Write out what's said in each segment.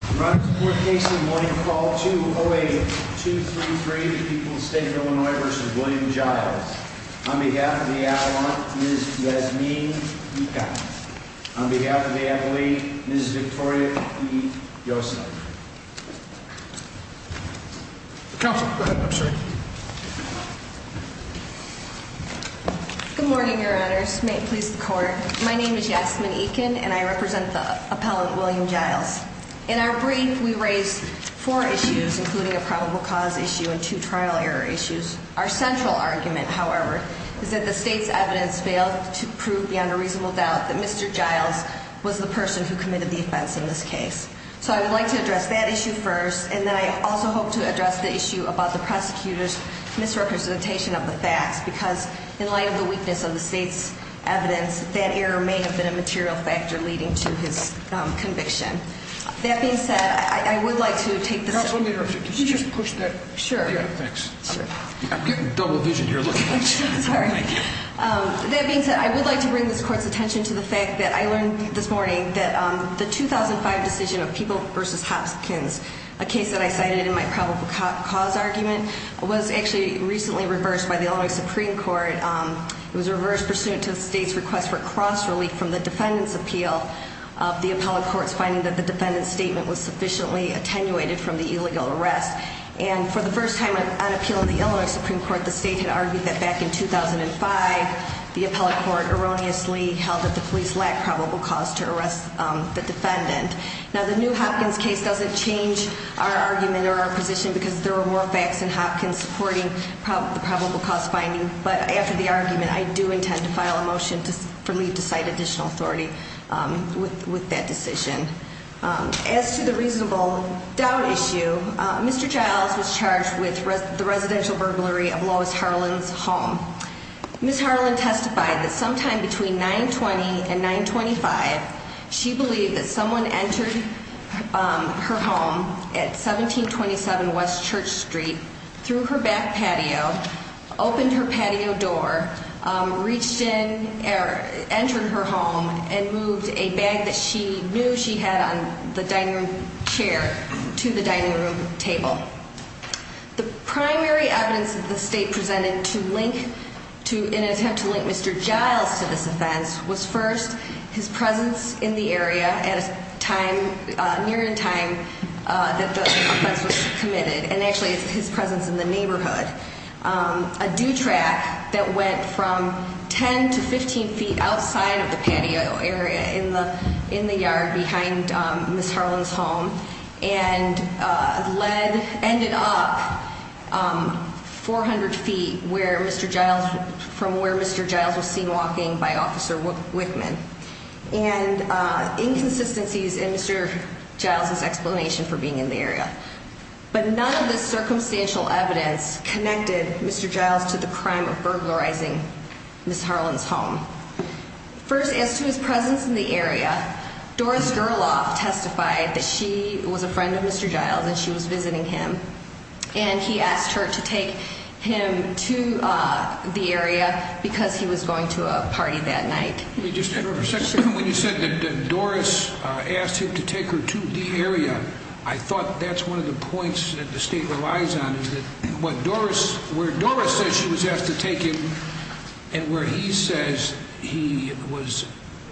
On behalf of the Adelante, Ms. Yasmin Ekin. On behalf of the Adelaide, Ms. Victoria E. Yosef. Counsel, go ahead. I'm sorry. Good morning, your honors. May it please the court. My name is Yasmin Ekin and I represent the appellant William Jiles. In our brief, we raise four issues, including a probable cause issue and two trial error issues. Our central argument, however, is that the state's evidence failed to prove beyond a reasonable doubt that Mr. Jiles was the person who committed the offense in this case. So I would like to address that issue first, and then I also hope to address the issue about the prosecutor's misrepresentation of the facts. Because in light of the weakness of the state's evidence, that error may have been a material factor leading to his conviction. That being said, I would like to take this. Counsel, let me interrupt you. Could you just push that? Sure. Thanks. I'm getting double vision here looking at you. I'm sorry. Thank you. That being said, I would like to bring this court's attention to the fact that I learned this morning that the 2005 decision of Peeble v. Hopkins, a case that I cited in my probable cause argument, was actually recently reversed by the Illinois Supreme Court. It was a reverse pursuit to the state's request for cross-relief from the defendant's appeal of the appellant court's finding that the defendant's statement was sufficiently attenuated from the illegal arrest. And for the first time on appeal in the Illinois Supreme Court, the state had argued that back in 2005, the appellant court erroneously held that the police lacked probable cause to arrest the defendant. Now, the new Hopkins case doesn't change our argument or our position because there were more facts in Hopkins supporting the probable cause finding. But after the argument, I do intend to file a motion for me to cite additional authority with that decision. As to the reasonable doubt issue, Mr. Childs was charged with the residential burglary of Lois Harlan's home. Ms. Harlan testified that sometime between 9-20 and 9-25, she believed that someone entered her home at 1727 West Church Street, threw her back patio, opened her patio door, reached in, entered her home, and moved a bag that she knew she had on the dining room chair to the dining room table. The primary evidence that the state presented in an attempt to link Mr. Childs to this offense was first his presence in the area at a time, near in time, that the offense was committed. And actually, it's his presence in the neighborhood. A dew track that went from 10 to 15 feet outside of the patio area in the yard behind Ms. Harlan's home. And ended up 400 feet from where Mr. Childs was seen walking by Officer Wickman. And inconsistencies in Mr. Childs' explanation for being in the area. But none of this circumstantial evidence connected Mr. Childs to the crime of burglarizing Ms. Harlan's home. First, as to his presence in the area, Doris Gerloff testified that she was a friend of Mr. Childs and she was visiting him. And he asked her to take him to the area because he was going to a party that night. Let me just interrupt for a second. When you said that Doris asked him to take her to the area, I thought that's one of the points that the state relies on. Is that where Doris says she was asked to take him and where he says he was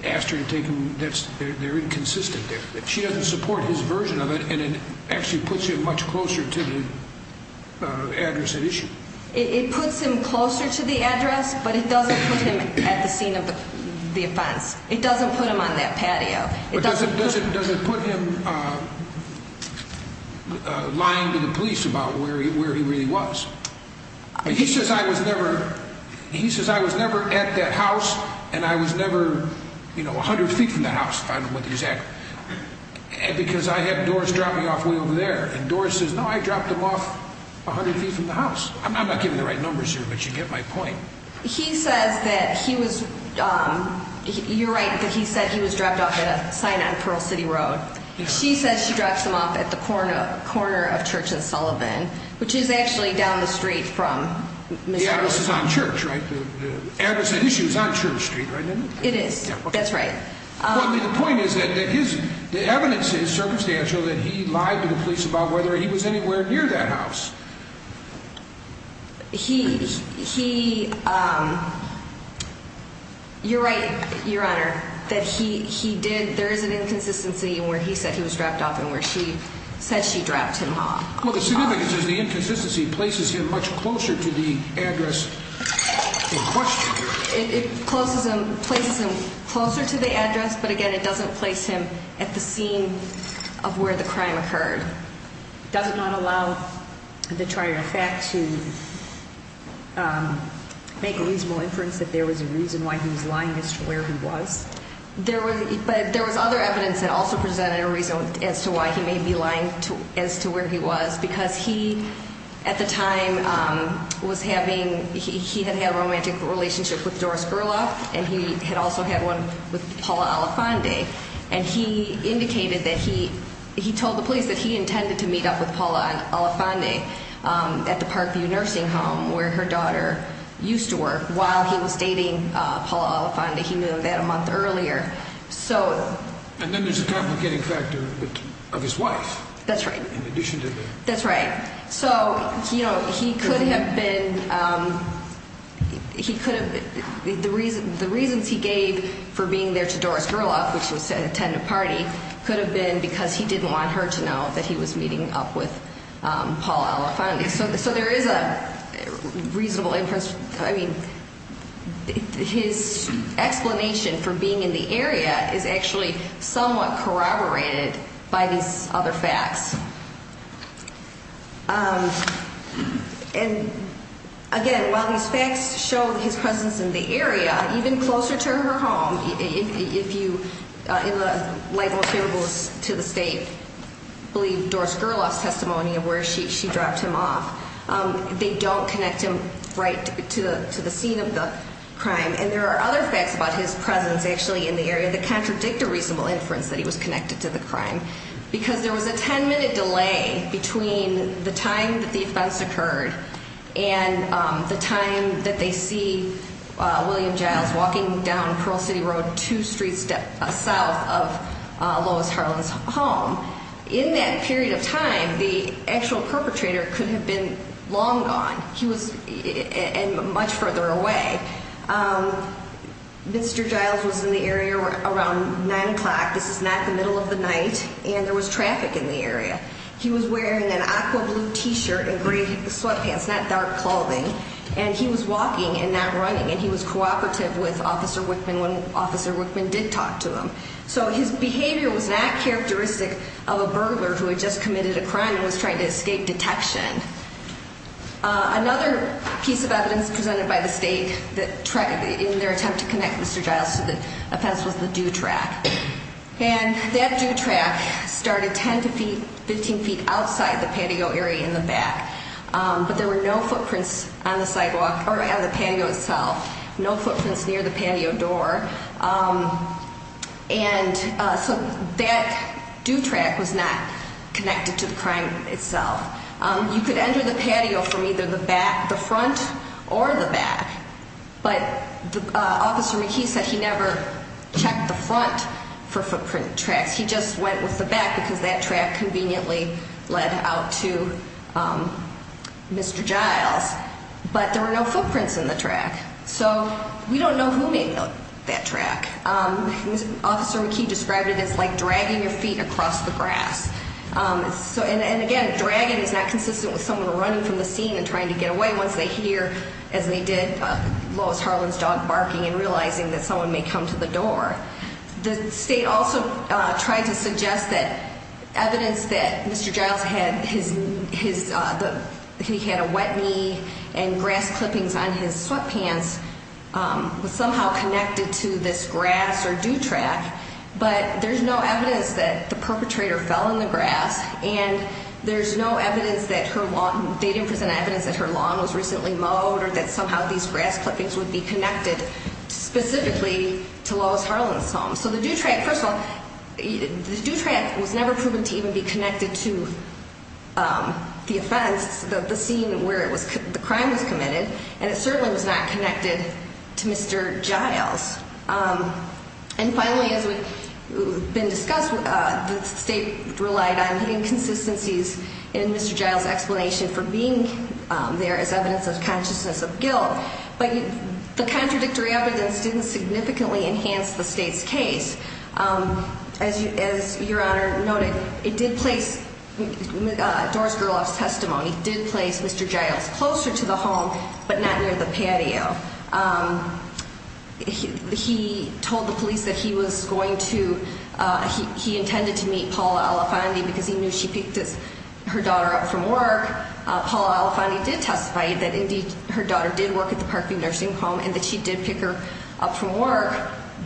asked her to take him, they're inconsistent. She doesn't support his version of it and it actually puts him much closer to the address at issue. It puts him closer to the address, but it doesn't put him at the scene of the offense. It doesn't put him on that patio. But does it put him lying to the police about where he really was? He says I was never at that house and I was never 100 feet from that house, if I remember exactly. Because I had Doris drop me off way over there and Doris says no, I dropped him off 100 feet from the house. I'm not giving the right numbers here, but you get my point. He says that he was, you're right, but he said he was dropped off at a sign on Pearl City Road. She says she drops him off at the corner of Church and Sullivan, which is actually down the street from Mr. Childs. The address is on Church, right? The address at issue is on Church Street, right? It is. That's right. The point is that the evidence is circumstantial that he lied to the police about whether he was anywhere near that house. You're right, Your Honor. There is an inconsistency where he said he was dropped off and where she said she dropped him off. Well, the significance is the inconsistency places him much closer to the address in question. It places him closer to the address, but again, it doesn't place him at the scene of where the crime occurred. Does it not allow the trier of fact to make a reasonable inference that there was a reason why he was lying as to where he was? There was other evidence that also presented a reason as to why he may be lying as to where he was because he, at the time, had had a romantic relationship with Doris Gerloff and he had also had one with Paula Alafande. He indicated that he told the police that he intended to meet up with Paula Alafande at the Parkview Nursing Home where her daughter used to work while he was dating Paula Alafande. He knew that a month earlier. And then there's the complicating factor of his wife. That's right. So, you know, he could have been, he could have, the reasons he gave for being there to Doris Gerloff, which was to attend a party, could have been because he didn't want her to know that he was meeting up with Paula Alafande. So there is a reasonable inference, I mean, his explanation for being in the area is actually somewhat corroborated by these other facts. And, again, while these facts show his presence in the area, even closer to her home, if you, in the light most favorable to the state, believe Doris Gerloff's testimony of where she dropped him off, they don't connect him right to the scene of the crime. And there are other facts about his presence actually in the area that contradict a reasonable inference that he was connected to the crime because there was a ten-minute delay between the time that the offense occurred and the time that they see William Giles walking down Pearl City Road two streets south of Lois Harlan's home. In that period of time, the actual perpetrator could have been long gone. He was much further away. Mr. Giles was in the area around 9 o'clock. This is not the middle of the night, and there was traffic in the area. He was wearing an aqua blue T-shirt and gray sweatpants, not dark clothing, and he was walking and not running, and he was cooperative with Officer Wickman when Officer Wickman did talk to him. So his behavior was not characteristic of a burglar who had just committed a crime and was trying to escape detection. Another piece of evidence presented by the state in their attempt to connect Mr. Giles to the offense was the dew track. And that dew track started 10 to 15 feet outside the patio area in the back, but there were no footprints on the sidewalk or on the patio itself, no footprints near the patio door. And so that dew track was not connected to the crime itself. You could enter the patio from either the front or the back, but Officer McKee said he never checked the front for footprint tracks. He just went with the back because that track conveniently led out to Mr. Giles. But there were no footprints in the track, so we don't know who made that track. Officer McKee described it as like dragging your feet across the grass. And, again, dragging is not consistent with someone running from the scene and trying to get away once they hear, as they did, Lois Harlan's dog barking and realizing that someone may come to the door. The state also tried to suggest that evidence that Mr. Giles had a wet knee and grass clippings on his sweatpants was somehow connected to this grass or dew track, but there's no evidence that the perpetrator fell in the grass and there's no evidence that they didn't present evidence that her lawn was recently mowed or that somehow these grass clippings would be connected specifically to Lois Harlan's home. So the dew track, first of all, the dew track was never proven to even be connected to the offense, the scene where the crime was committed, and it certainly was not connected to Mr. Giles. And, finally, as has been discussed, the state relied on inconsistencies in Mr. Giles' explanation for being there as evidence of consciousness of guilt, but the contradictory evidence didn't significantly enhance the state's case. As Your Honor noted, it did place, Doris Gerloff's testimony did place Mr. Giles closer to the home, but not near the patio. He told the police that he was going to, he intended to meet Paula Alefandi because he knew she picked her daughter up from work. Paula Alefandi did testify that, indeed, her daughter did work at the Parkview Nursing Home and that she did pick her up from work,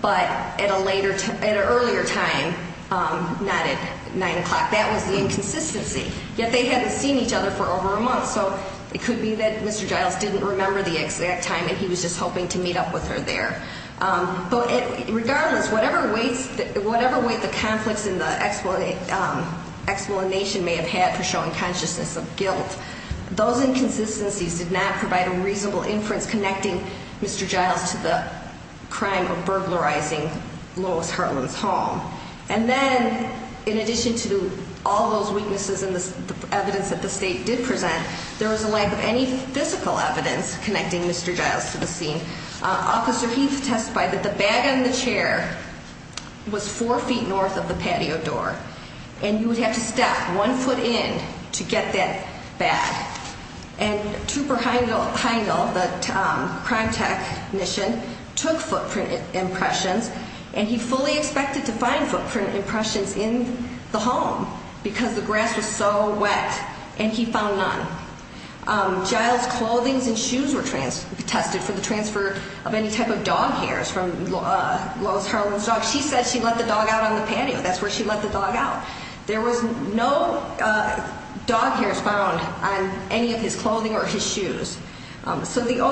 but at an earlier time, not at 9 o'clock. That was the inconsistency. Yet they hadn't seen each other for over a month, so it could be that Mr. Giles didn't remember the exact time and he was just hoping to meet up with her there. But regardless, whatever weight the conflicts in the explanation may have had for showing consciousness of guilt, those inconsistencies did not provide a reasonable inference connecting Mr. Giles to the crime of burglarizing Lois Hartland's home. And then, in addition to all those weaknesses in the evidence that the State did present, there was a lack of any physical evidence connecting Mr. Giles to the scene. Officer Heath testified that the bag on the chair was four feet north of the patio door and you would have to step one foot in to get that bag. And Trooper Heindel, the crime technician, took footprint impressions and he fully expected to find footprint impressions in the home because the grass was so wet and he found none. Giles' clothing and shoes were tested for the transfer of any type of dog hairs from Lois Hartland's dog. She said she let the dog out on the patio. That's where she let the dog out. There was no dog hairs found on any of his clothing or his shoes. So the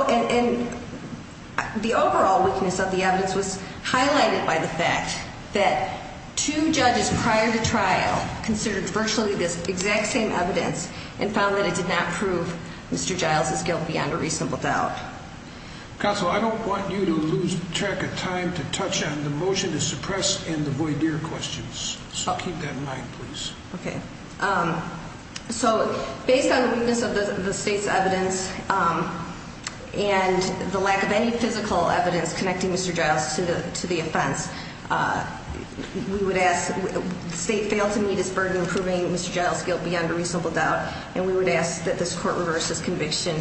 overall weakness of the evidence was highlighted by the fact that two judges prior to trial considered virtually the exact same evidence and found that it did not prove Mr. Giles' guilt beyond a reasonable doubt. Counsel, I don't want you to lose track of time to touch on the motion to suppress and avoid air questions. So I'll keep that in mind, please. Okay. So based on the weakness of the state's evidence and the lack of any physical evidence connecting Mr. Giles to the offense, we would ask, the state failed to meet its burden proving Mr. Giles' guilt beyond a reasonable doubt and we would ask that this court reverse this conviction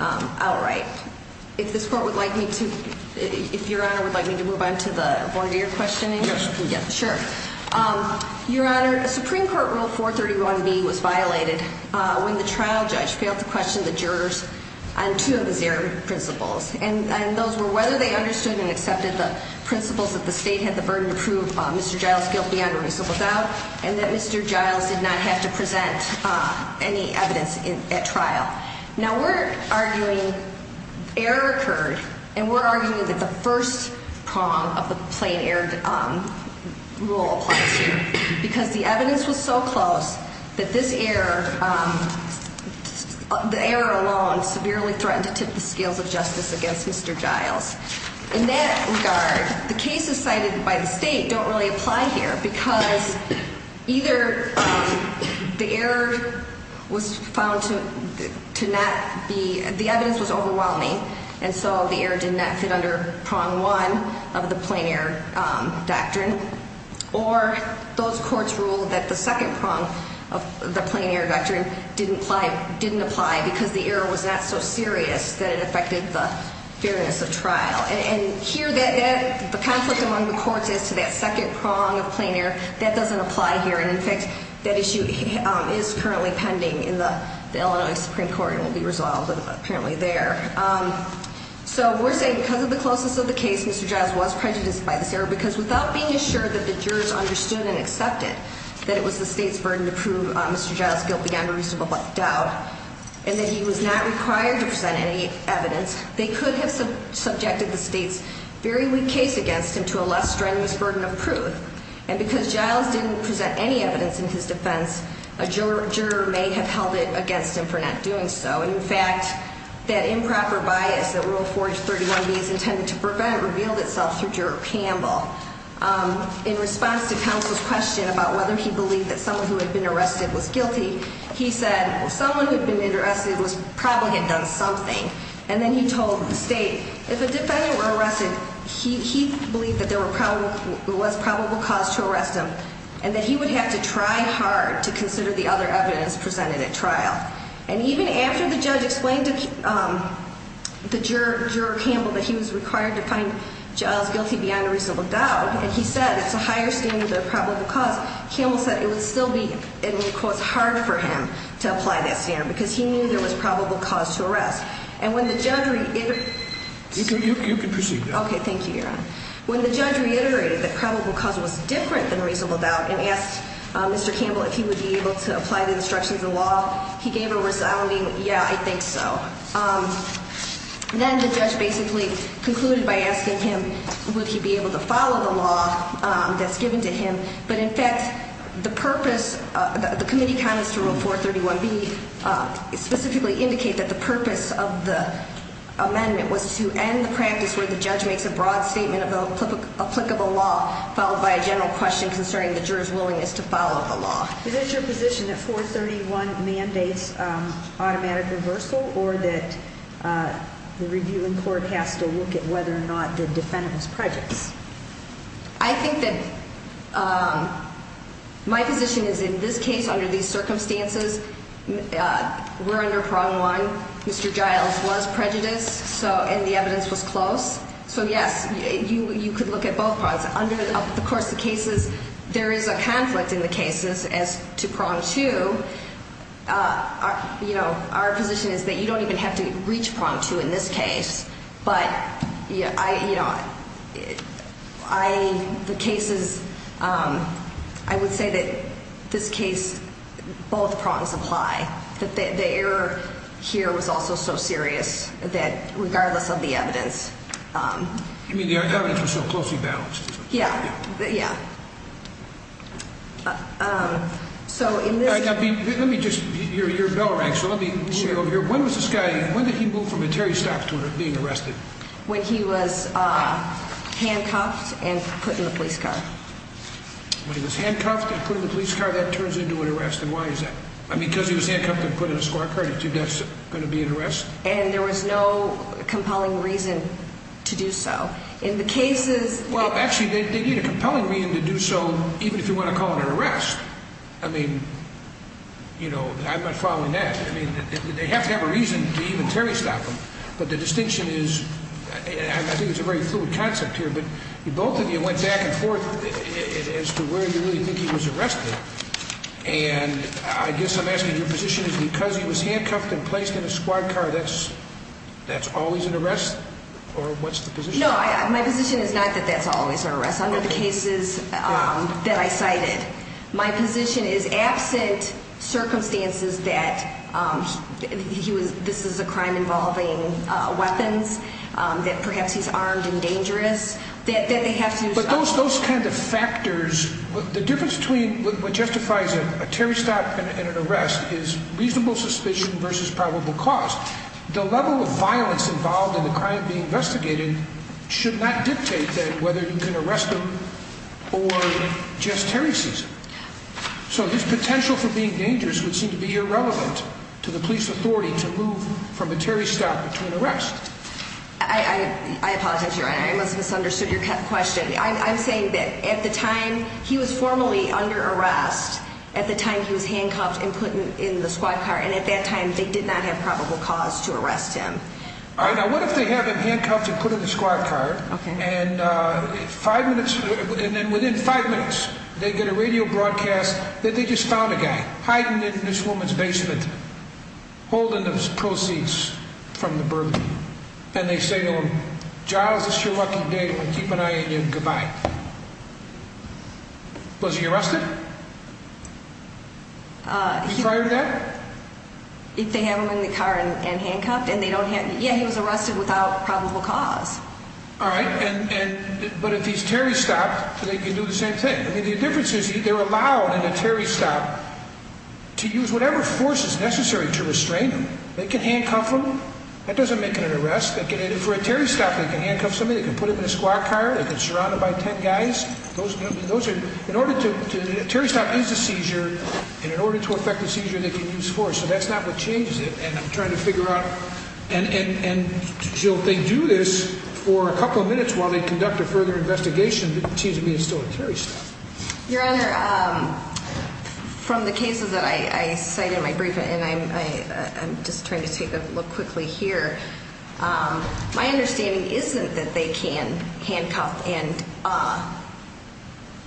outright. If this court would like me to, if Your Honor would like me to move on to the voir dire questioning. Yes, sure. Your Honor, a Supreme Court Rule 431B was violated when the trial judge failed to question the jurors on two of his air principles. And those were whether they understood and accepted the principles that the state had the burden to prove Mr. Giles' guilt beyond a reasonable doubt and that Mr. Giles did not have to present any evidence at trial. Now we're arguing error occurred and we're arguing that the first prong of the plain error rule applies here because the evidence was so close that this error, the error alone severely threatened to tip the scales of justice against Mr. Giles. In that regard, the cases cited by the state don't really apply here because either the error was found to not be, the evidence was overwhelming and so the error did not fit under prong one of the plain error doctrine or those courts ruled that the second prong of the plain error doctrine didn't apply because the error was not so serious that it affected the fairness of trial. And here the conflict among the courts as to that second prong of plain error, that doesn't apply here and in fact that issue is currently pending in the Illinois Supreme Court and will be resolved apparently there. So we're saying because of the closeness of the case, Mr. Giles was prejudiced by this error because without being assured that the jurors understood and accepted that it was the state's burden to prove Mr. Giles' guilt beyond a reasonable doubt and that he was not required to present any evidence, they could have subjected the state's very weak case against him to a less strenuous burden of proof. And because Giles didn't present any evidence in his defense, a juror may have held it against him for not doing so. And in fact, that improper bias that Rule 431B is intended to prevent revealed itself through Juror Campbell. In response to counsel's question about whether he believed that someone who had been arrested was guilty, he said someone who had been arrested probably had done something. And then he told the state if a defendant were arrested, he believed that there was probable cause to arrest him and that he would have to try hard to consider the other evidence presented at trial. And even after the judge explained to the juror Campbell that he was required to find Giles guilty beyond a reasonable doubt and he said it's a higher standard than probable cause, Campbell said it would still be, in quotes, hard for him to apply that standard because he knew there was probable cause to arrest. And when the judge reiterated that probable cause was different than reasonable doubt and asked Mr. Campbell if he would be able to apply the instructions of the law, he gave a resounding, yeah, I think so. Then the judge basically concluded by asking him would he be able to follow the law that's given to him. But in fact, the purpose, the committee comments to Rule 431B specifically indicate that the purpose of the amendment was to end the practice where the judge makes a broad statement of applicable law followed by a general question concerning the juror's willingness to follow the law. Is it your position that 431 mandates automatic reversal or that the reviewing court has to look at whether or not the defendant was prejudiced? I think that my position is in this case, under these circumstances, we're under prong one. Mr. Giles was prejudiced and the evidence was close. So, yes, you could look at both prongs. Of course, the cases, there is a conflict in the cases as to prong two. Our position is that you don't even have to reach prong two in this case. But the cases, I would say that this case, both prongs apply. The error here was also so serious that regardless of the evidence. I mean, the evidence was so closely balanced. Yeah, yeah. So, in this. Let me just, you're bell rang, so let me move you over here. When was this guy, when did he move from a Terry stock to being arrested? When he was handcuffed and put in the police car. When he was handcuffed and put in the police car, that turns into an arrest, and why is that? I mean, because he was handcuffed and put in a squad car, do you think that's going to be an arrest? And there was no compelling reason to do so. In the cases. Well, actually, they need a compelling reason to do so, even if you want to call it an arrest. I mean, you know, I'm not following that. I mean, they have to have a reason to even Terry stop him. But the distinction is, I think it's a very fluid concept here, but both of you went back and forth as to where you really think he was arrested. And I guess I'm asking, your position is because he was handcuffed and placed in a squad car, that's always an arrest? Or what's the position? No, my position is not that that's always an arrest. Under the cases that I cited, my position is absent circumstances that this is a crime involving weapons, that perhaps he's armed and dangerous, that they have to. But those kind of factors, the difference between what justifies a Terry stop and an arrest is reasonable suspicion versus probable cause. The level of violence involved in the crime being investigated should not dictate that whether you can arrest him or just Terry sees him. So his potential for being dangerous would seem to be irrelevant to the police authority to move from a Terry stop to an arrest. I apologize, your honor, I must have misunderstood your question. I'm saying that at the time he was formally under arrest, at the time he was handcuffed and put in the squad car, and at that time they did not have probable cause to arrest him. All right, now what if they have him handcuffed and put in the squad car, and within five minutes they get a radio broadcast that they just found a guy hiding in this woman's basement, holding those proceeds from the bourbon. And they say to him, Giles, this is your lucky day, I'm going to keep an eye on you, goodbye. Was he arrested? If they have him in the car and handcuffed, and they don't have, yeah, he was arrested without probable cause. All right, but if he's Terry stopped, they can do the same thing. I mean, the difference is they're allowed in a Terry stop to use whatever force is necessary to restrain him. They can handcuff him, that doesn't make it an arrest. For a Terry stop, they can handcuff somebody, they can put him in a squad car, they can surround him by ten guys. Those are, in order to, a Terry stop is a seizure, and in order to effect a seizure they can use force. So that's not what changes it, and I'm trying to figure out, and Giles, they do this for a couple of minutes while they conduct a further investigation, but it seems to me it's still a Terry stop. Your Honor, from the cases that I cited in my brief, and I'm just trying to take a look quickly here. My understanding isn't that they can handcuff and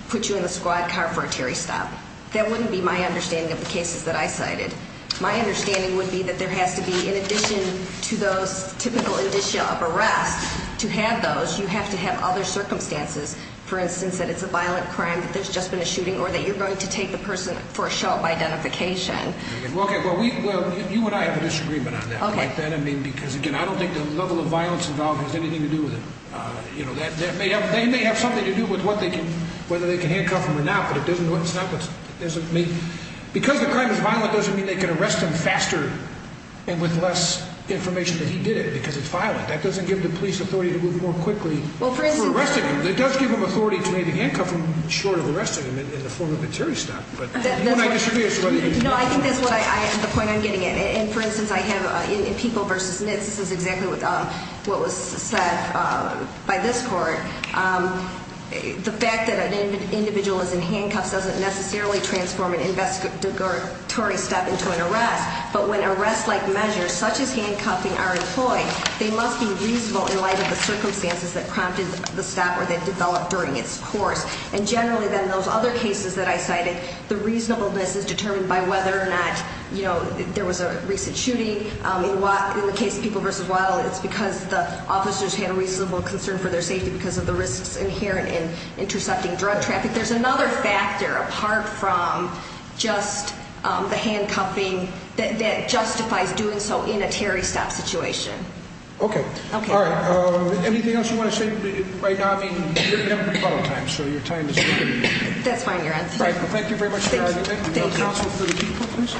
put you in a squad car for a Terry stop. That wouldn't be my understanding of the cases that I cited. My understanding would be that there has to be, in addition to those typical indicia of arrest, to have those, you have to have other circumstances. For instance, that it's a violent crime, that there's just been a shooting, or that you're going to take the person for a show of identification. Okay, well, you and I have a disagreement on that. Okay. Because, again, I don't think the level of violence involved has anything to do with it. They may have something to do with whether they can handcuff him or not, but it doesn't make... Because the crime is violent doesn't mean they can arrest him faster and with less information than he did, because it's violent. That doesn't give the police authority to move more quickly for arresting him. It does give them authority to handcuff him short of arresting him in the form of a Terry stop, but you and I disagree as to whether you... No, I think that's the point I'm getting at. And, for instance, I have in People v. Nitz, this is exactly what was said by this court, the fact that an individual is in handcuffs doesn't necessarily transform an investigatory stop into an arrest, but when arrest-like measures such as handcuffing are employed, they must be reasonable in light of the circumstances that prompted the stop or that developed during its course. And generally, then, those other cases that I cited, the reasonableness is determined by whether or not there was a recent shooting. In the case of People v. Waddell, it's because the officers had a reasonable concern for their safety because of the risks inherent in intercepting drug traffic. But there's another factor, apart from just the handcuffing, that justifies doing so in a Terry stop situation. Okay. Okay. All right. Anything else you want to say? Right now, I mean, you're going to have rebuttal time, so your time is limited. That's fine. You're on. Thank you very much for your argument. Thank you. Counsel for the People, please.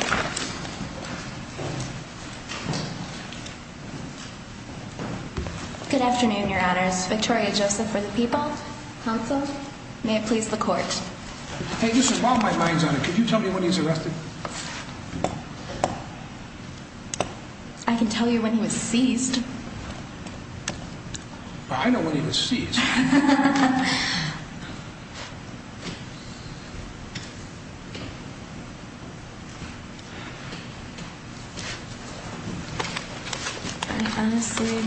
Good afternoon, Your Honors. Victoria Joseph for the People. Counsel? May it please the Court. Hey, this is all my mind's on it. Could you tell me when he was arrested? I can tell you when he was seized. I know when he was seized. Okay. Okay. Okay. Okay.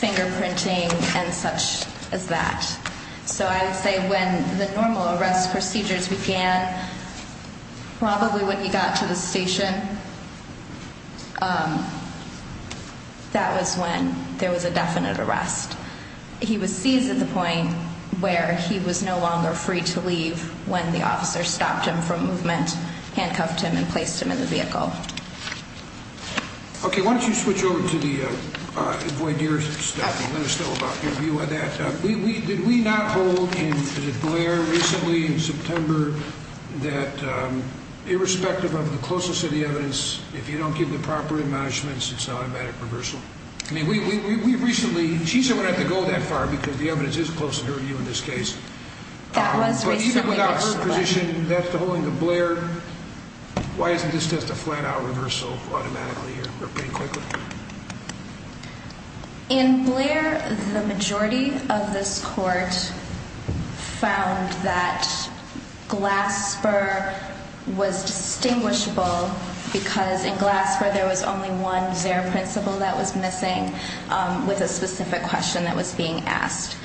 Fingerprinting and such as that. So I would say when the normal arrest procedures began, probably when he got to the station, that was when there was a definite arrest. He was seized at the point where he was no longer free to leave when the officer stopped him from movement, handcuffed him, and placed him in the vehicle. Okay. Why don't you switch over to the avoidance stuff and let us know about your view on that. Did we not hold in Blair recently in September that irrespective of the closest of the evidence, if you don't give the proper admonishments, it's an automatic reversal? I mean, we recently, she said we don't have to go that far because the evidence is close to her view in this case. But even without her position, that's the holding of Blair. Why isn't this just a flat-out reversal automatically or pretty quickly? In Blair, the majority of this court found that Glasper was distinguishable because in Glasper there was only one zero principle that was missing with a specific question that was being asked.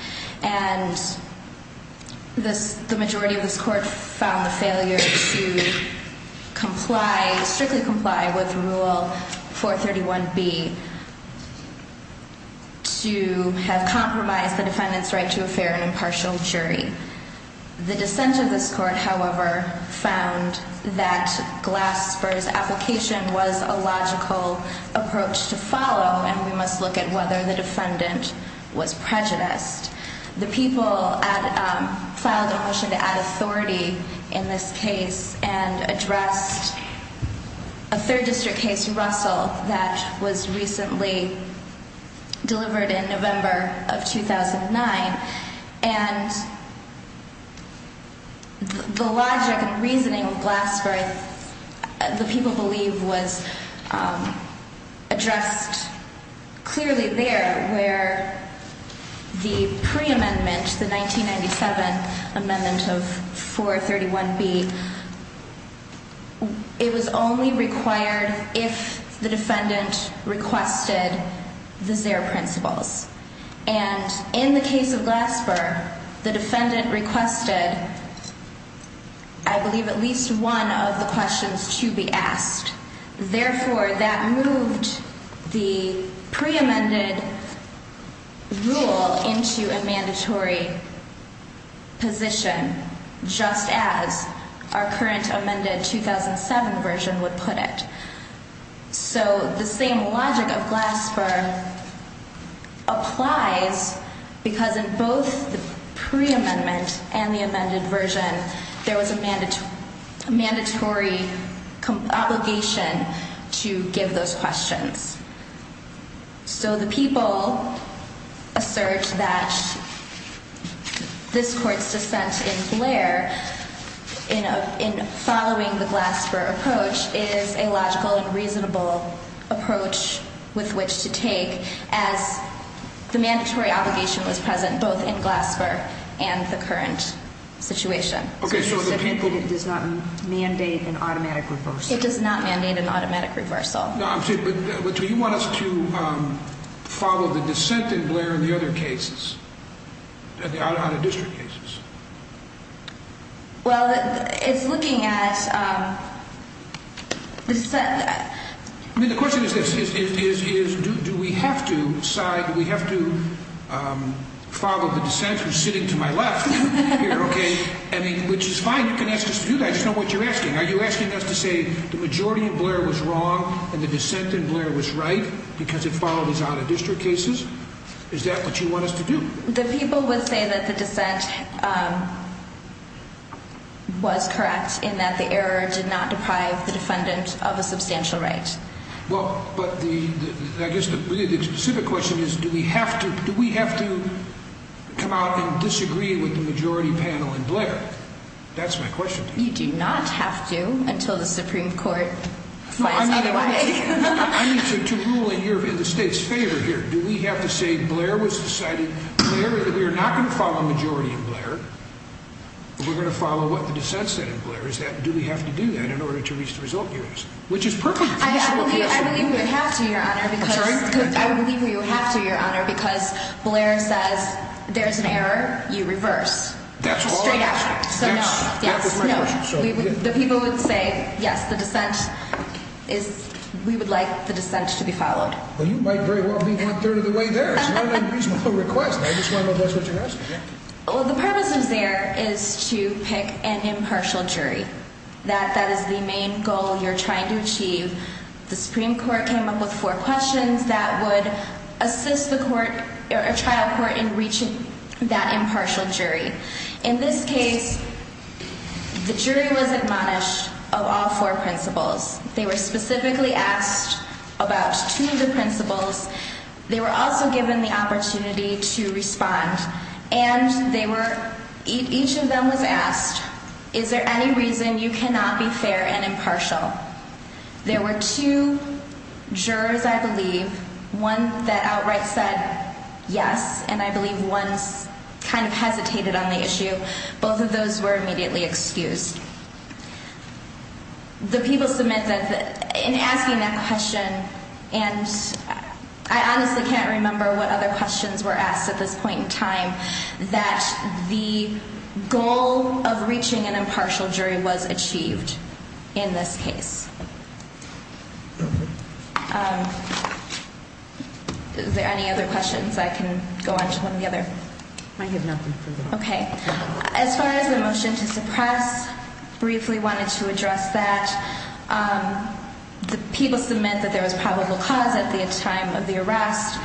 And the majority of this court found the failure to comply, strictly comply, with Rule 431B to have compromised the defendant's right to a fair and impartial jury. The dissent of this court, however, found that Glasper's application was a logical approach to follow and we must look at whether the defendant was prejudiced. The people filed a motion to add authority in this case and addressed a third district case, Russell, that was recently delivered in November of 2009. And the logic and reasoning of Glasper, the people believe, was addressed clearly there where the pre-amendment, the 1997 amendment of 431B, it was only required if the defendant requested the zero principles. And in the case of Glasper, the defendant requested, I believe, at least one of the questions to be asked. Therefore, that moved the pre-amended rule into a mandatory position, just as our current amended 2007 version would put it. So the same logic of Glasper applies because in both the pre-amendment and the amended version, there was a mandatory obligation to give those questions. So the people assert that this court's dissent in Blair, in following the Glasper approach, is a logical and reasonable approach with which to take as the mandatory obligation was present both in Glasper and the current situation. Okay, so the people... It does not mandate an automatic reversal. It does not mandate an automatic reversal. But you want us to follow the dissent in Blair in the other cases, the out-of-district cases? Well, it's looking at... I mean, the question is this. Do we have to decide, do we have to follow the dissent who's sitting to my left here, okay? I mean, which is fine. You can ask us to do that. I just don't know what you're asking. Are you asking us to say the majority of Blair was wrong and the dissent in Blair was right because it followed his out-of-district cases? Is that what you want us to do? The people would say that the dissent was correct in that the error did not deprive the defendant of a substantial right. Well, but I guess the specific question is do we have to come out and disagree with the majority panel in Blair? That's my question to you. You do not have to until the Supreme Court finds another way. I need to rule in the state's favor here. Do we have to say Blair was decided? We're not going to follow a majority in Blair. We're going to follow what the dissent said in Blair. Do we have to do that in order to reach the result? Which is perfectly feasible here. I believe we have to, Your Honor, because Blair says there's an error. You reverse. That's all I'm asking. Yes. That was my question. The people would say, yes, the dissent is we would like the dissent to be followed. Well, you might very well be one-third of the way there. It's not an unreasonable request. I just want to know if that's what you're asking. Well, the purpose is there is to pick an impartial jury. That is the main goal you're trying to achieve. The Supreme Court came up with four questions that would assist the trial court in reaching that impartial jury. In this case, the jury was admonished of all four principles. They were specifically asked about two of the principles. They were also given the opportunity to respond. And each of them was asked, is there any reason you cannot be fair and impartial? There were two jurors, I believe, one that outright said yes. And I believe one kind of hesitated on the issue. Both of those were immediately excused. The people submit that in asking that question, and I honestly can't remember what other questions were asked at this point in time, that the goal of reaching an impartial jury was achieved in this case. Is there any other questions? I can go on to one of the other. I have nothing. Okay. As far as the motion to suppress, briefly wanted to address that. The people submit that there was probable cause at the time of the arrest.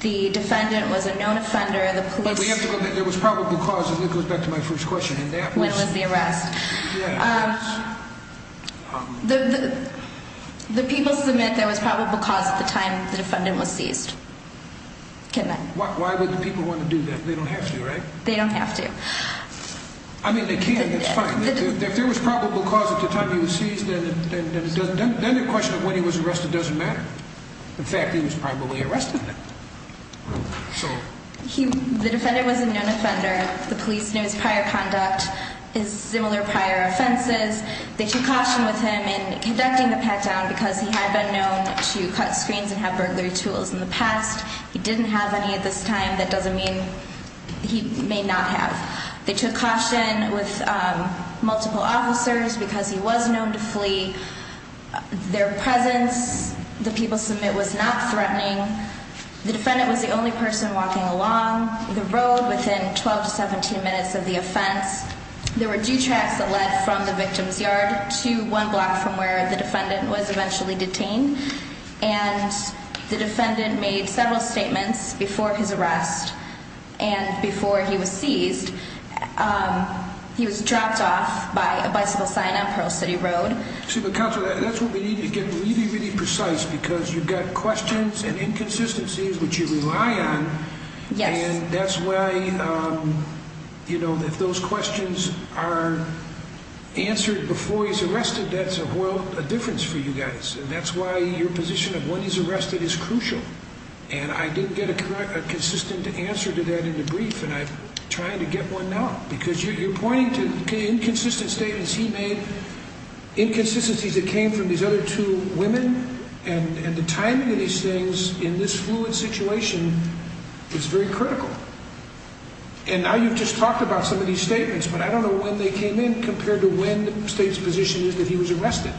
The defendant was a known offender. But we have to go back. There was probable cause, and it goes back to my first question. When was the arrest? The people submit there was probable cause at the time the defendant was seized. Why would the people want to do that? They don't have to, right? They don't have to. I mean, they can. It's fine. If there was probable cause at the time he was seized, then the question of when he was arrested doesn't matter. In fact, he was probably arrested then. The defendant was a known offender. The police knew his prior conduct. His similar prior offenses. They took caution with him in conducting the pat-down because he had been known to cut screens and have burglary tools in the past. He didn't have any at this time. That doesn't mean he may not have. They took caution with multiple officers because he was known to flee. Their presence, the people submit, was not threatening. The defendant was the only person walking along the road within 12 to 17 minutes of the offense. There were two tracks that led from the victim's yard to one block from where the defendant was eventually detained. And the defendant made several statements before his arrest and before he was seized. He was dropped off by a bicycle sign on Pearl City Road. See, but Counselor, that's what we need to get really, really precise because you've got questions and inconsistencies which you rely on. Yes. And that's why, you know, if those questions are answered before he's arrested, that's a difference for you guys. And that's why your position of when he's arrested is crucial. And I didn't get a consistent answer to that in the brief, and I'm trying to get one now. Because you're pointing to inconsistent statements he made, inconsistencies that came from these other two women, and the timing of these things in this fluid situation is very critical. And now you've just talked about some of these statements, but I don't know when they came in compared to when the State's position is that he was arrested.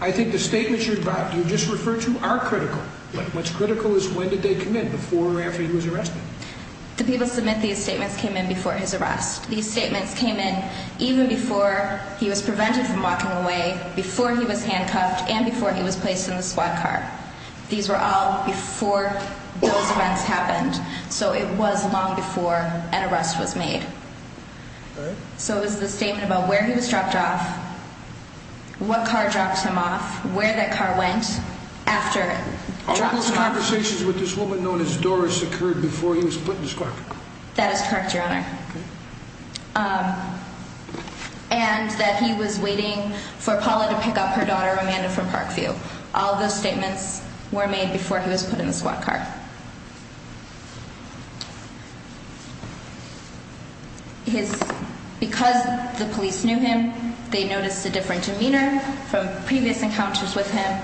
I think the statements you just referred to are critical. But what's critical is when did they come in, before or after he was arrested. The people who submit these statements came in before his arrest. These statements came in even before he was prevented from walking away, before he was handcuffed, and before he was placed in the squad car. These were all before those events happened, so it was long before an arrest was made. So it was the statement about where he was dropped off, what car dropped him off, where that car went, after it dropped him off. Are all those conversations with this woman known as Doris occurred before he was put in the squad car? That is correct, Your Honor. And that he was waiting for Paula to pick up her daughter Amanda from Parkview. All those statements were made before he was put in the squad car. Because the police knew him, they noticed a different demeanor from previous encounters with him.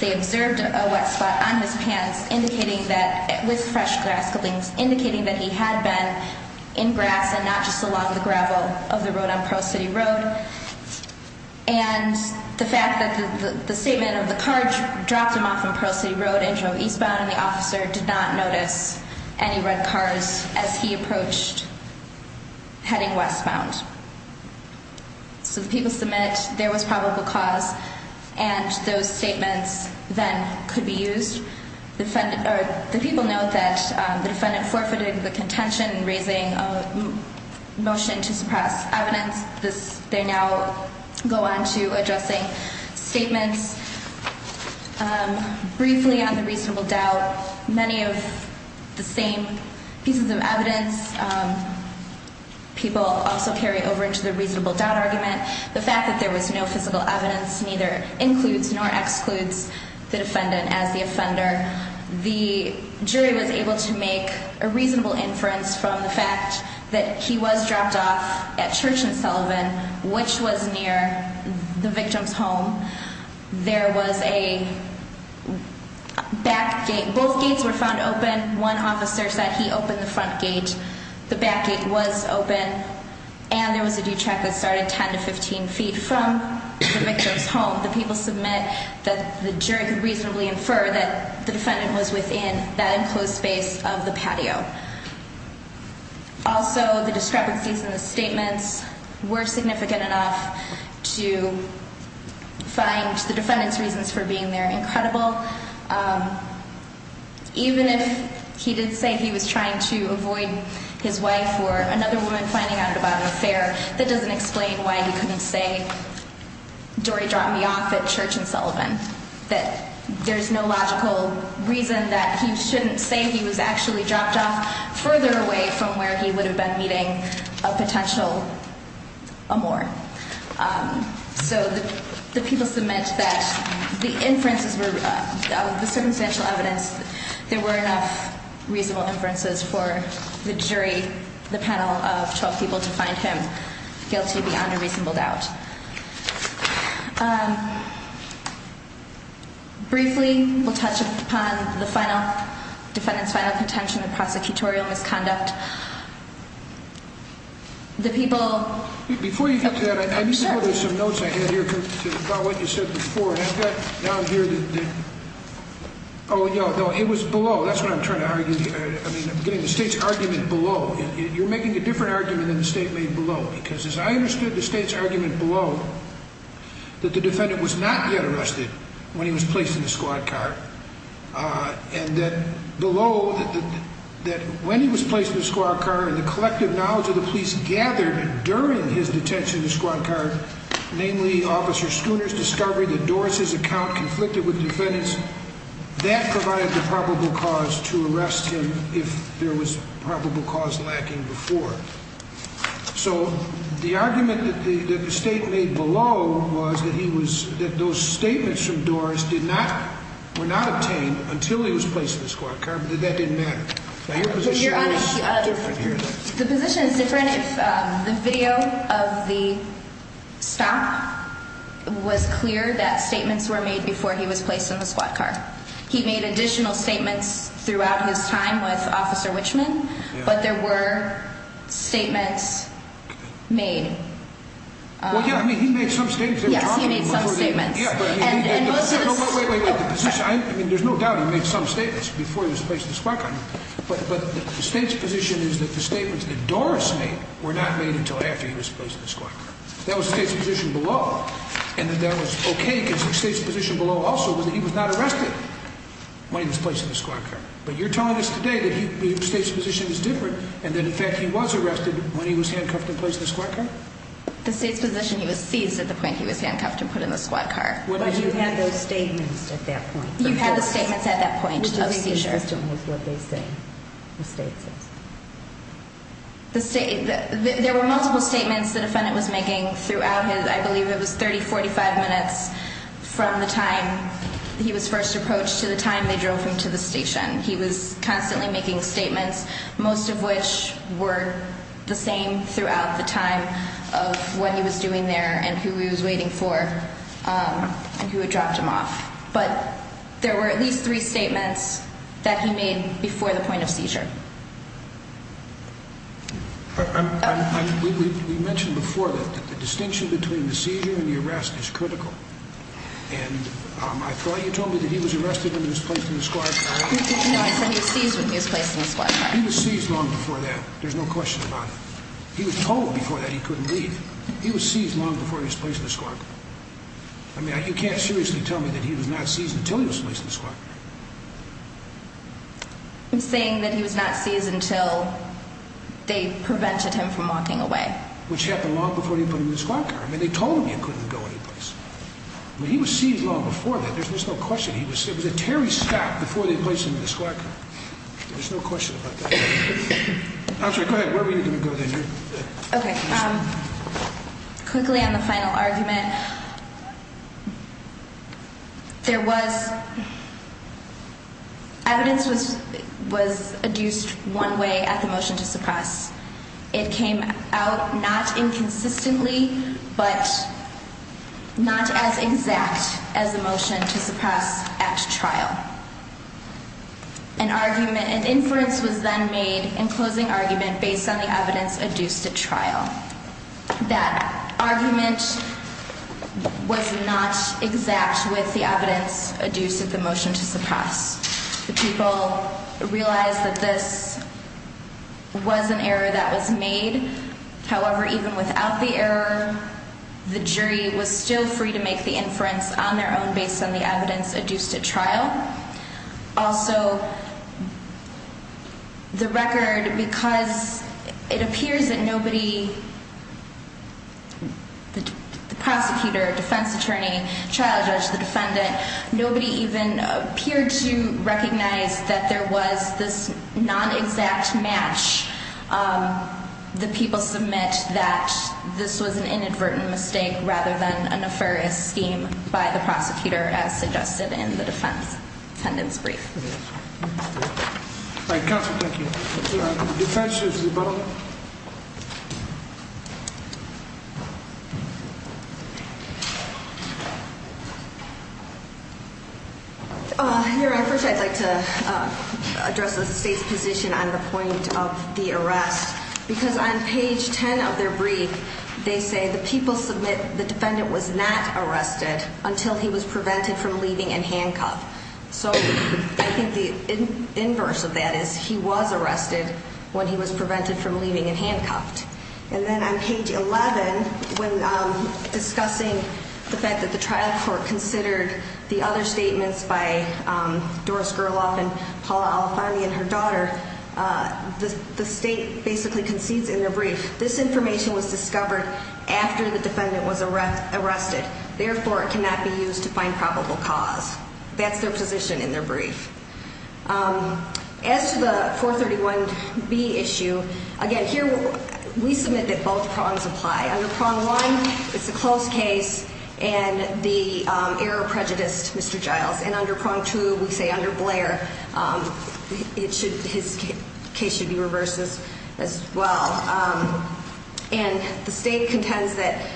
They observed a wet spot on his pants indicating that it was fresh grass clippings, indicating that he had been in grass and not just along the gravel of the road on Pearl City Road. And the fact that the statement of the car dropped him off on Pearl City Road and drove eastbound and the officer did not notice any red cars as he approached heading westbound. So the people submit there was probable cause and those statements then could be used. The people note that the defendant forfeited the contention in raising a motion to suppress evidence. They now go on to addressing statements briefly on the reasonable doubt. Many of the same pieces of evidence people also carry over into the reasonable doubt argument. The fact that there was no physical evidence neither includes nor excludes the defendant as the offender. The jury was able to make a reasonable inference from the fact that he was dropped off at Church and Sullivan, which was near the victim's home. There was a back gate. Both gates were found open. One officer said he opened the front gate. The back gate was open. And there was a due track that started 10 to 15 feet from the victim's home. The people submit that the jury could reasonably infer that the defendant was within that enclosed space of the patio. Also, the discrepancies in the statements were significant enough to find the defendant's reasons for being there incredible. Even if he did say he was trying to avoid his wife or another woman finding out about an affair, that doesn't explain why he couldn't say, Dory dropped me off at Church and Sullivan. That there's no logical reason that he shouldn't say he was actually dropped off further away from where he would have been meeting a potential amor. So the people submit that the inferences were, the circumstantial evidence, there were enough reasonable inferences for the jury, the panel of 12 people, to find him guilty beyond a reasonable doubt. Briefly, we'll touch upon the final, defendant's final contention of prosecutorial misconduct. Before you get to that, I need to go to some notes I had here about what you said before. And I've got down here that, oh, no, no, it was below. That's what I'm trying to argue. I mean, I'm getting the state's argument below. You're making a different argument than the state made below. Because as I understood the state's argument below, that the defendant was not yet arrested when he was placed in the squad car. And that below, that when he was placed in the squad car and the collective knowledge of the police gathered during his detention in the squad car, namely Officer Schooner's discovery that Doris' account conflicted with the defendant's, that provided the probable cause to arrest him if there was probable cause lacking before. So the argument that the state made below was that he was, that those statements from Doris did not, were not obtained until he was placed in the squad car, but that didn't matter. Now your position is different here. The position is different if the video of the stop was clear that statements were made before he was placed in the squad car. He made additional statements throughout his time with Officer Wichman. But there were statements made. Well, yeah, I mean, he made some statements. Yes, he made some statements. Yeah, but I mean, the position, I mean, there's no doubt he made some statements before he was placed in the squad car. But the state's position is that the statements that Doris made were not made until after he was placed in the squad car. That was the state's position below. And that was okay because the state's position below also was that he was not arrested when he was placed in the squad car. But you're telling us today that the state's position is different and that, in fact, he was arrested when he was handcuffed and placed in the squad car? The state's position, he was seized at the point he was handcuffed and put in the squad car. But you had those statements at that point. You had the statements at that point of seizure. Which I think the system was what they say the state says. The state, there were multiple statements the defendant was making throughout his, I believe it was 30, 45 minutes from the time he was first approached to the time they drove him to the station. He was constantly making statements, most of which were the same throughout the time of what he was doing there and who he was waiting for and who had dropped him off. But there were at least three statements that he made before the point of seizure. We mentioned before that the distinction between the seizure and the arrest is critical. And I thought you told me that he was arrested when he was placed in the squad car. No, I said he was seized when he was placed in the squad car. He was seized long before that. There's no question about it. He was told before that he couldn't leave. He was seized long before he was placed in the squad car. I mean, you can't seriously tell me that he was not seized until he was placed in the squad car. I'm saying that he was not seized until they prevented him from walking away. Which happened long before he was put in the squad car. I mean, they told him he couldn't go anyplace. He was seized long before that. There's no question. It was a teary stop before they placed him in the squad car. There's no question about that. I'm sorry, go ahead. Where were you going to go then? Okay, quickly on the final argument. There was evidence that was adduced one way at the motion to suppress. It came out not inconsistently, but not as exact as the motion to suppress at trial. An inference was then made in closing argument based on the evidence adduced at trial. That argument was not exact with the evidence adduced at the motion to suppress. The people realized that this was an error that was made. However, even without the error, the jury was still free to make the inference on their own based on the evidence adduced at trial. Also, the record, because it appears that nobody, the prosecutor, defense attorney, trial judge, the defendant, nobody even appeared to recognize that there was this non-exact match. The people submit that this was an inadvertent mistake rather than a nefarious scheme by the prosecutor as suggested in the defendant's brief. All right, counsel, thank you. Defense, you have the ball. Your Honor, first I'd like to address the state's position on the point of the arrest. Because on page 10 of their brief, they say the people submit the defendant was not arrested until he was prevented from leaving and handcuffed. So I think the inverse of that is he was arrested when he was prevented from leaving and handcuffed. And then on page 11, when discussing the fact that the trial court considered the other statements by Doris Gerloff and Paula Alfani and her daughter, the state basically concedes in their brief, this information was discovered after the defendant was arrested. Therefore, it cannot be used to find probable cause. That's their position in their brief. As to the 431B issue, again, here we submit that both prongs apply. Under prong one, it's a close case, and the error prejudiced Mr. Giles. And under prong two, we say under Blair, his case should be reversed as well. And the state contends that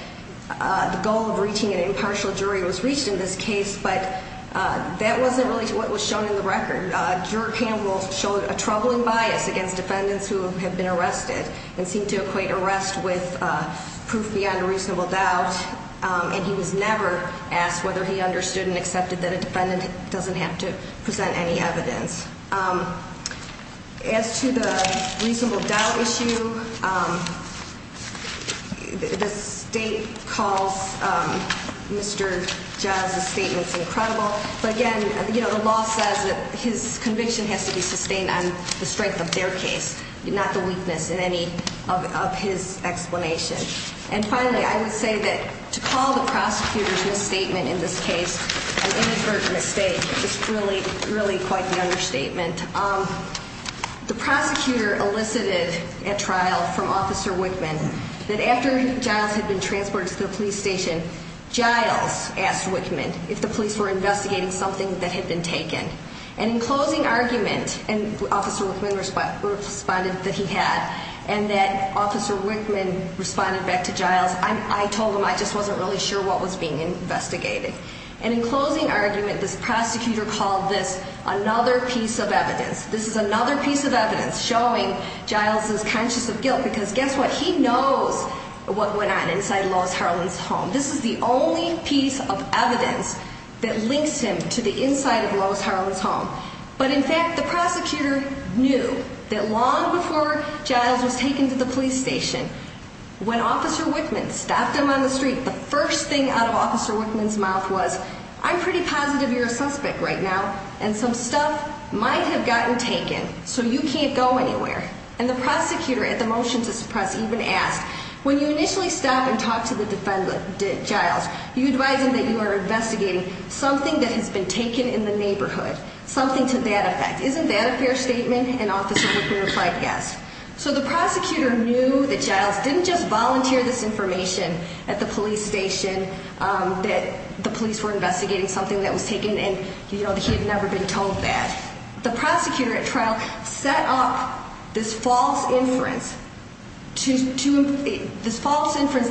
the goal of reaching an impartial jury was reached in this case, but that wasn't really what was shown in the record. Juror Campbell showed a troubling bias against defendants who have been arrested and seemed to equate arrest with proof beyond a reasonable doubt. And he was never asked whether he understood and accepted that a defendant doesn't have to present any evidence. As to the reasonable doubt issue, the state calls Mr. Giles' statements incredible. But again, the law says that his conviction has to be sustained on the strength of their case, not the weakness in any of his explanation. And finally, I would say that to call the prosecutor's misstatement in this case an inadvertent mistake is really quite the understatement. The prosecutor elicited at trial from Officer Wickman that after Giles had been transported to the police station, Giles asked Wickman if the police were investigating something that had been taken. And in closing argument, and Officer Wickman responded that he had, and that Officer Wickman responded back to Giles, I told him I just wasn't really sure what was being investigated. And in closing argument, this prosecutor called this another piece of evidence. This is another piece of evidence showing Giles is conscious of guilt because guess what, he knows what went on inside Lois Harlan's home. This is the only piece of evidence that links him to the inside of Lois Harlan's home. But in fact, the prosecutor knew that long before Giles was taken to the police station, when Officer Wickman stopped him on the street, the first thing out of Officer Wickman's mouth was, I'm pretty positive you're a suspect right now, and some stuff might have gotten taken, so you can't go anywhere. And the prosecutor at the motion to suppress even asked, when you initially stop and talk to the defendant, Giles, you advise him that you are investigating something that has been taken in the neighborhood, something to that effect. Isn't that a fair statement? And Officer Wickman replied yes. So the prosecutor knew that Giles didn't just volunteer this information at the police station that the police were investigating something that was taken and he had never been told that. The prosecutor at trial set up this false inference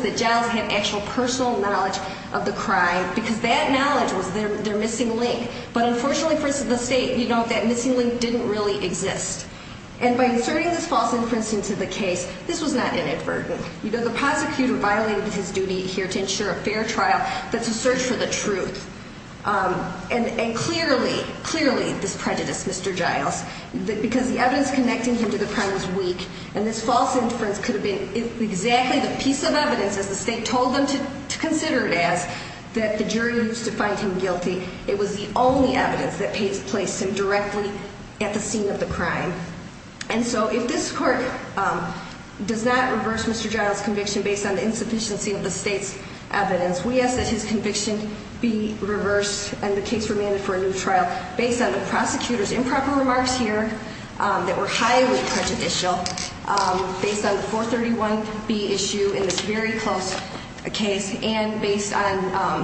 that Giles had actual personal knowledge of the crime because that knowledge was their missing link. But unfortunately for the state, that missing link didn't really exist. And by inserting this false inference into the case, this was not inadvertent. The prosecutor violated his duty here to ensure a fair trial, but to search for the truth. And clearly, clearly this prejudiced Mr. Giles, because the evidence connecting him to the crime was weak. And this false inference could have been exactly the piece of evidence, as the state told them to consider it as, that the jury used to find him guilty. It was the only evidence that placed him directly at the scene of the crime. And so if this court does not reverse Mr. Giles' conviction based on the insufficiency of the state's evidence, we ask that his conviction be reversed and the case remanded for a new trial based on the prosecutor's improper remarks here that were highly prejudicial, based on the 431B issue in this very close case, and based on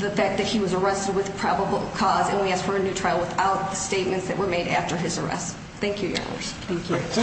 the fact that he was arrested with probable cause, and we ask for a new trial without the statements that were made after his arrest. Thank you, Your Honors. Thank you.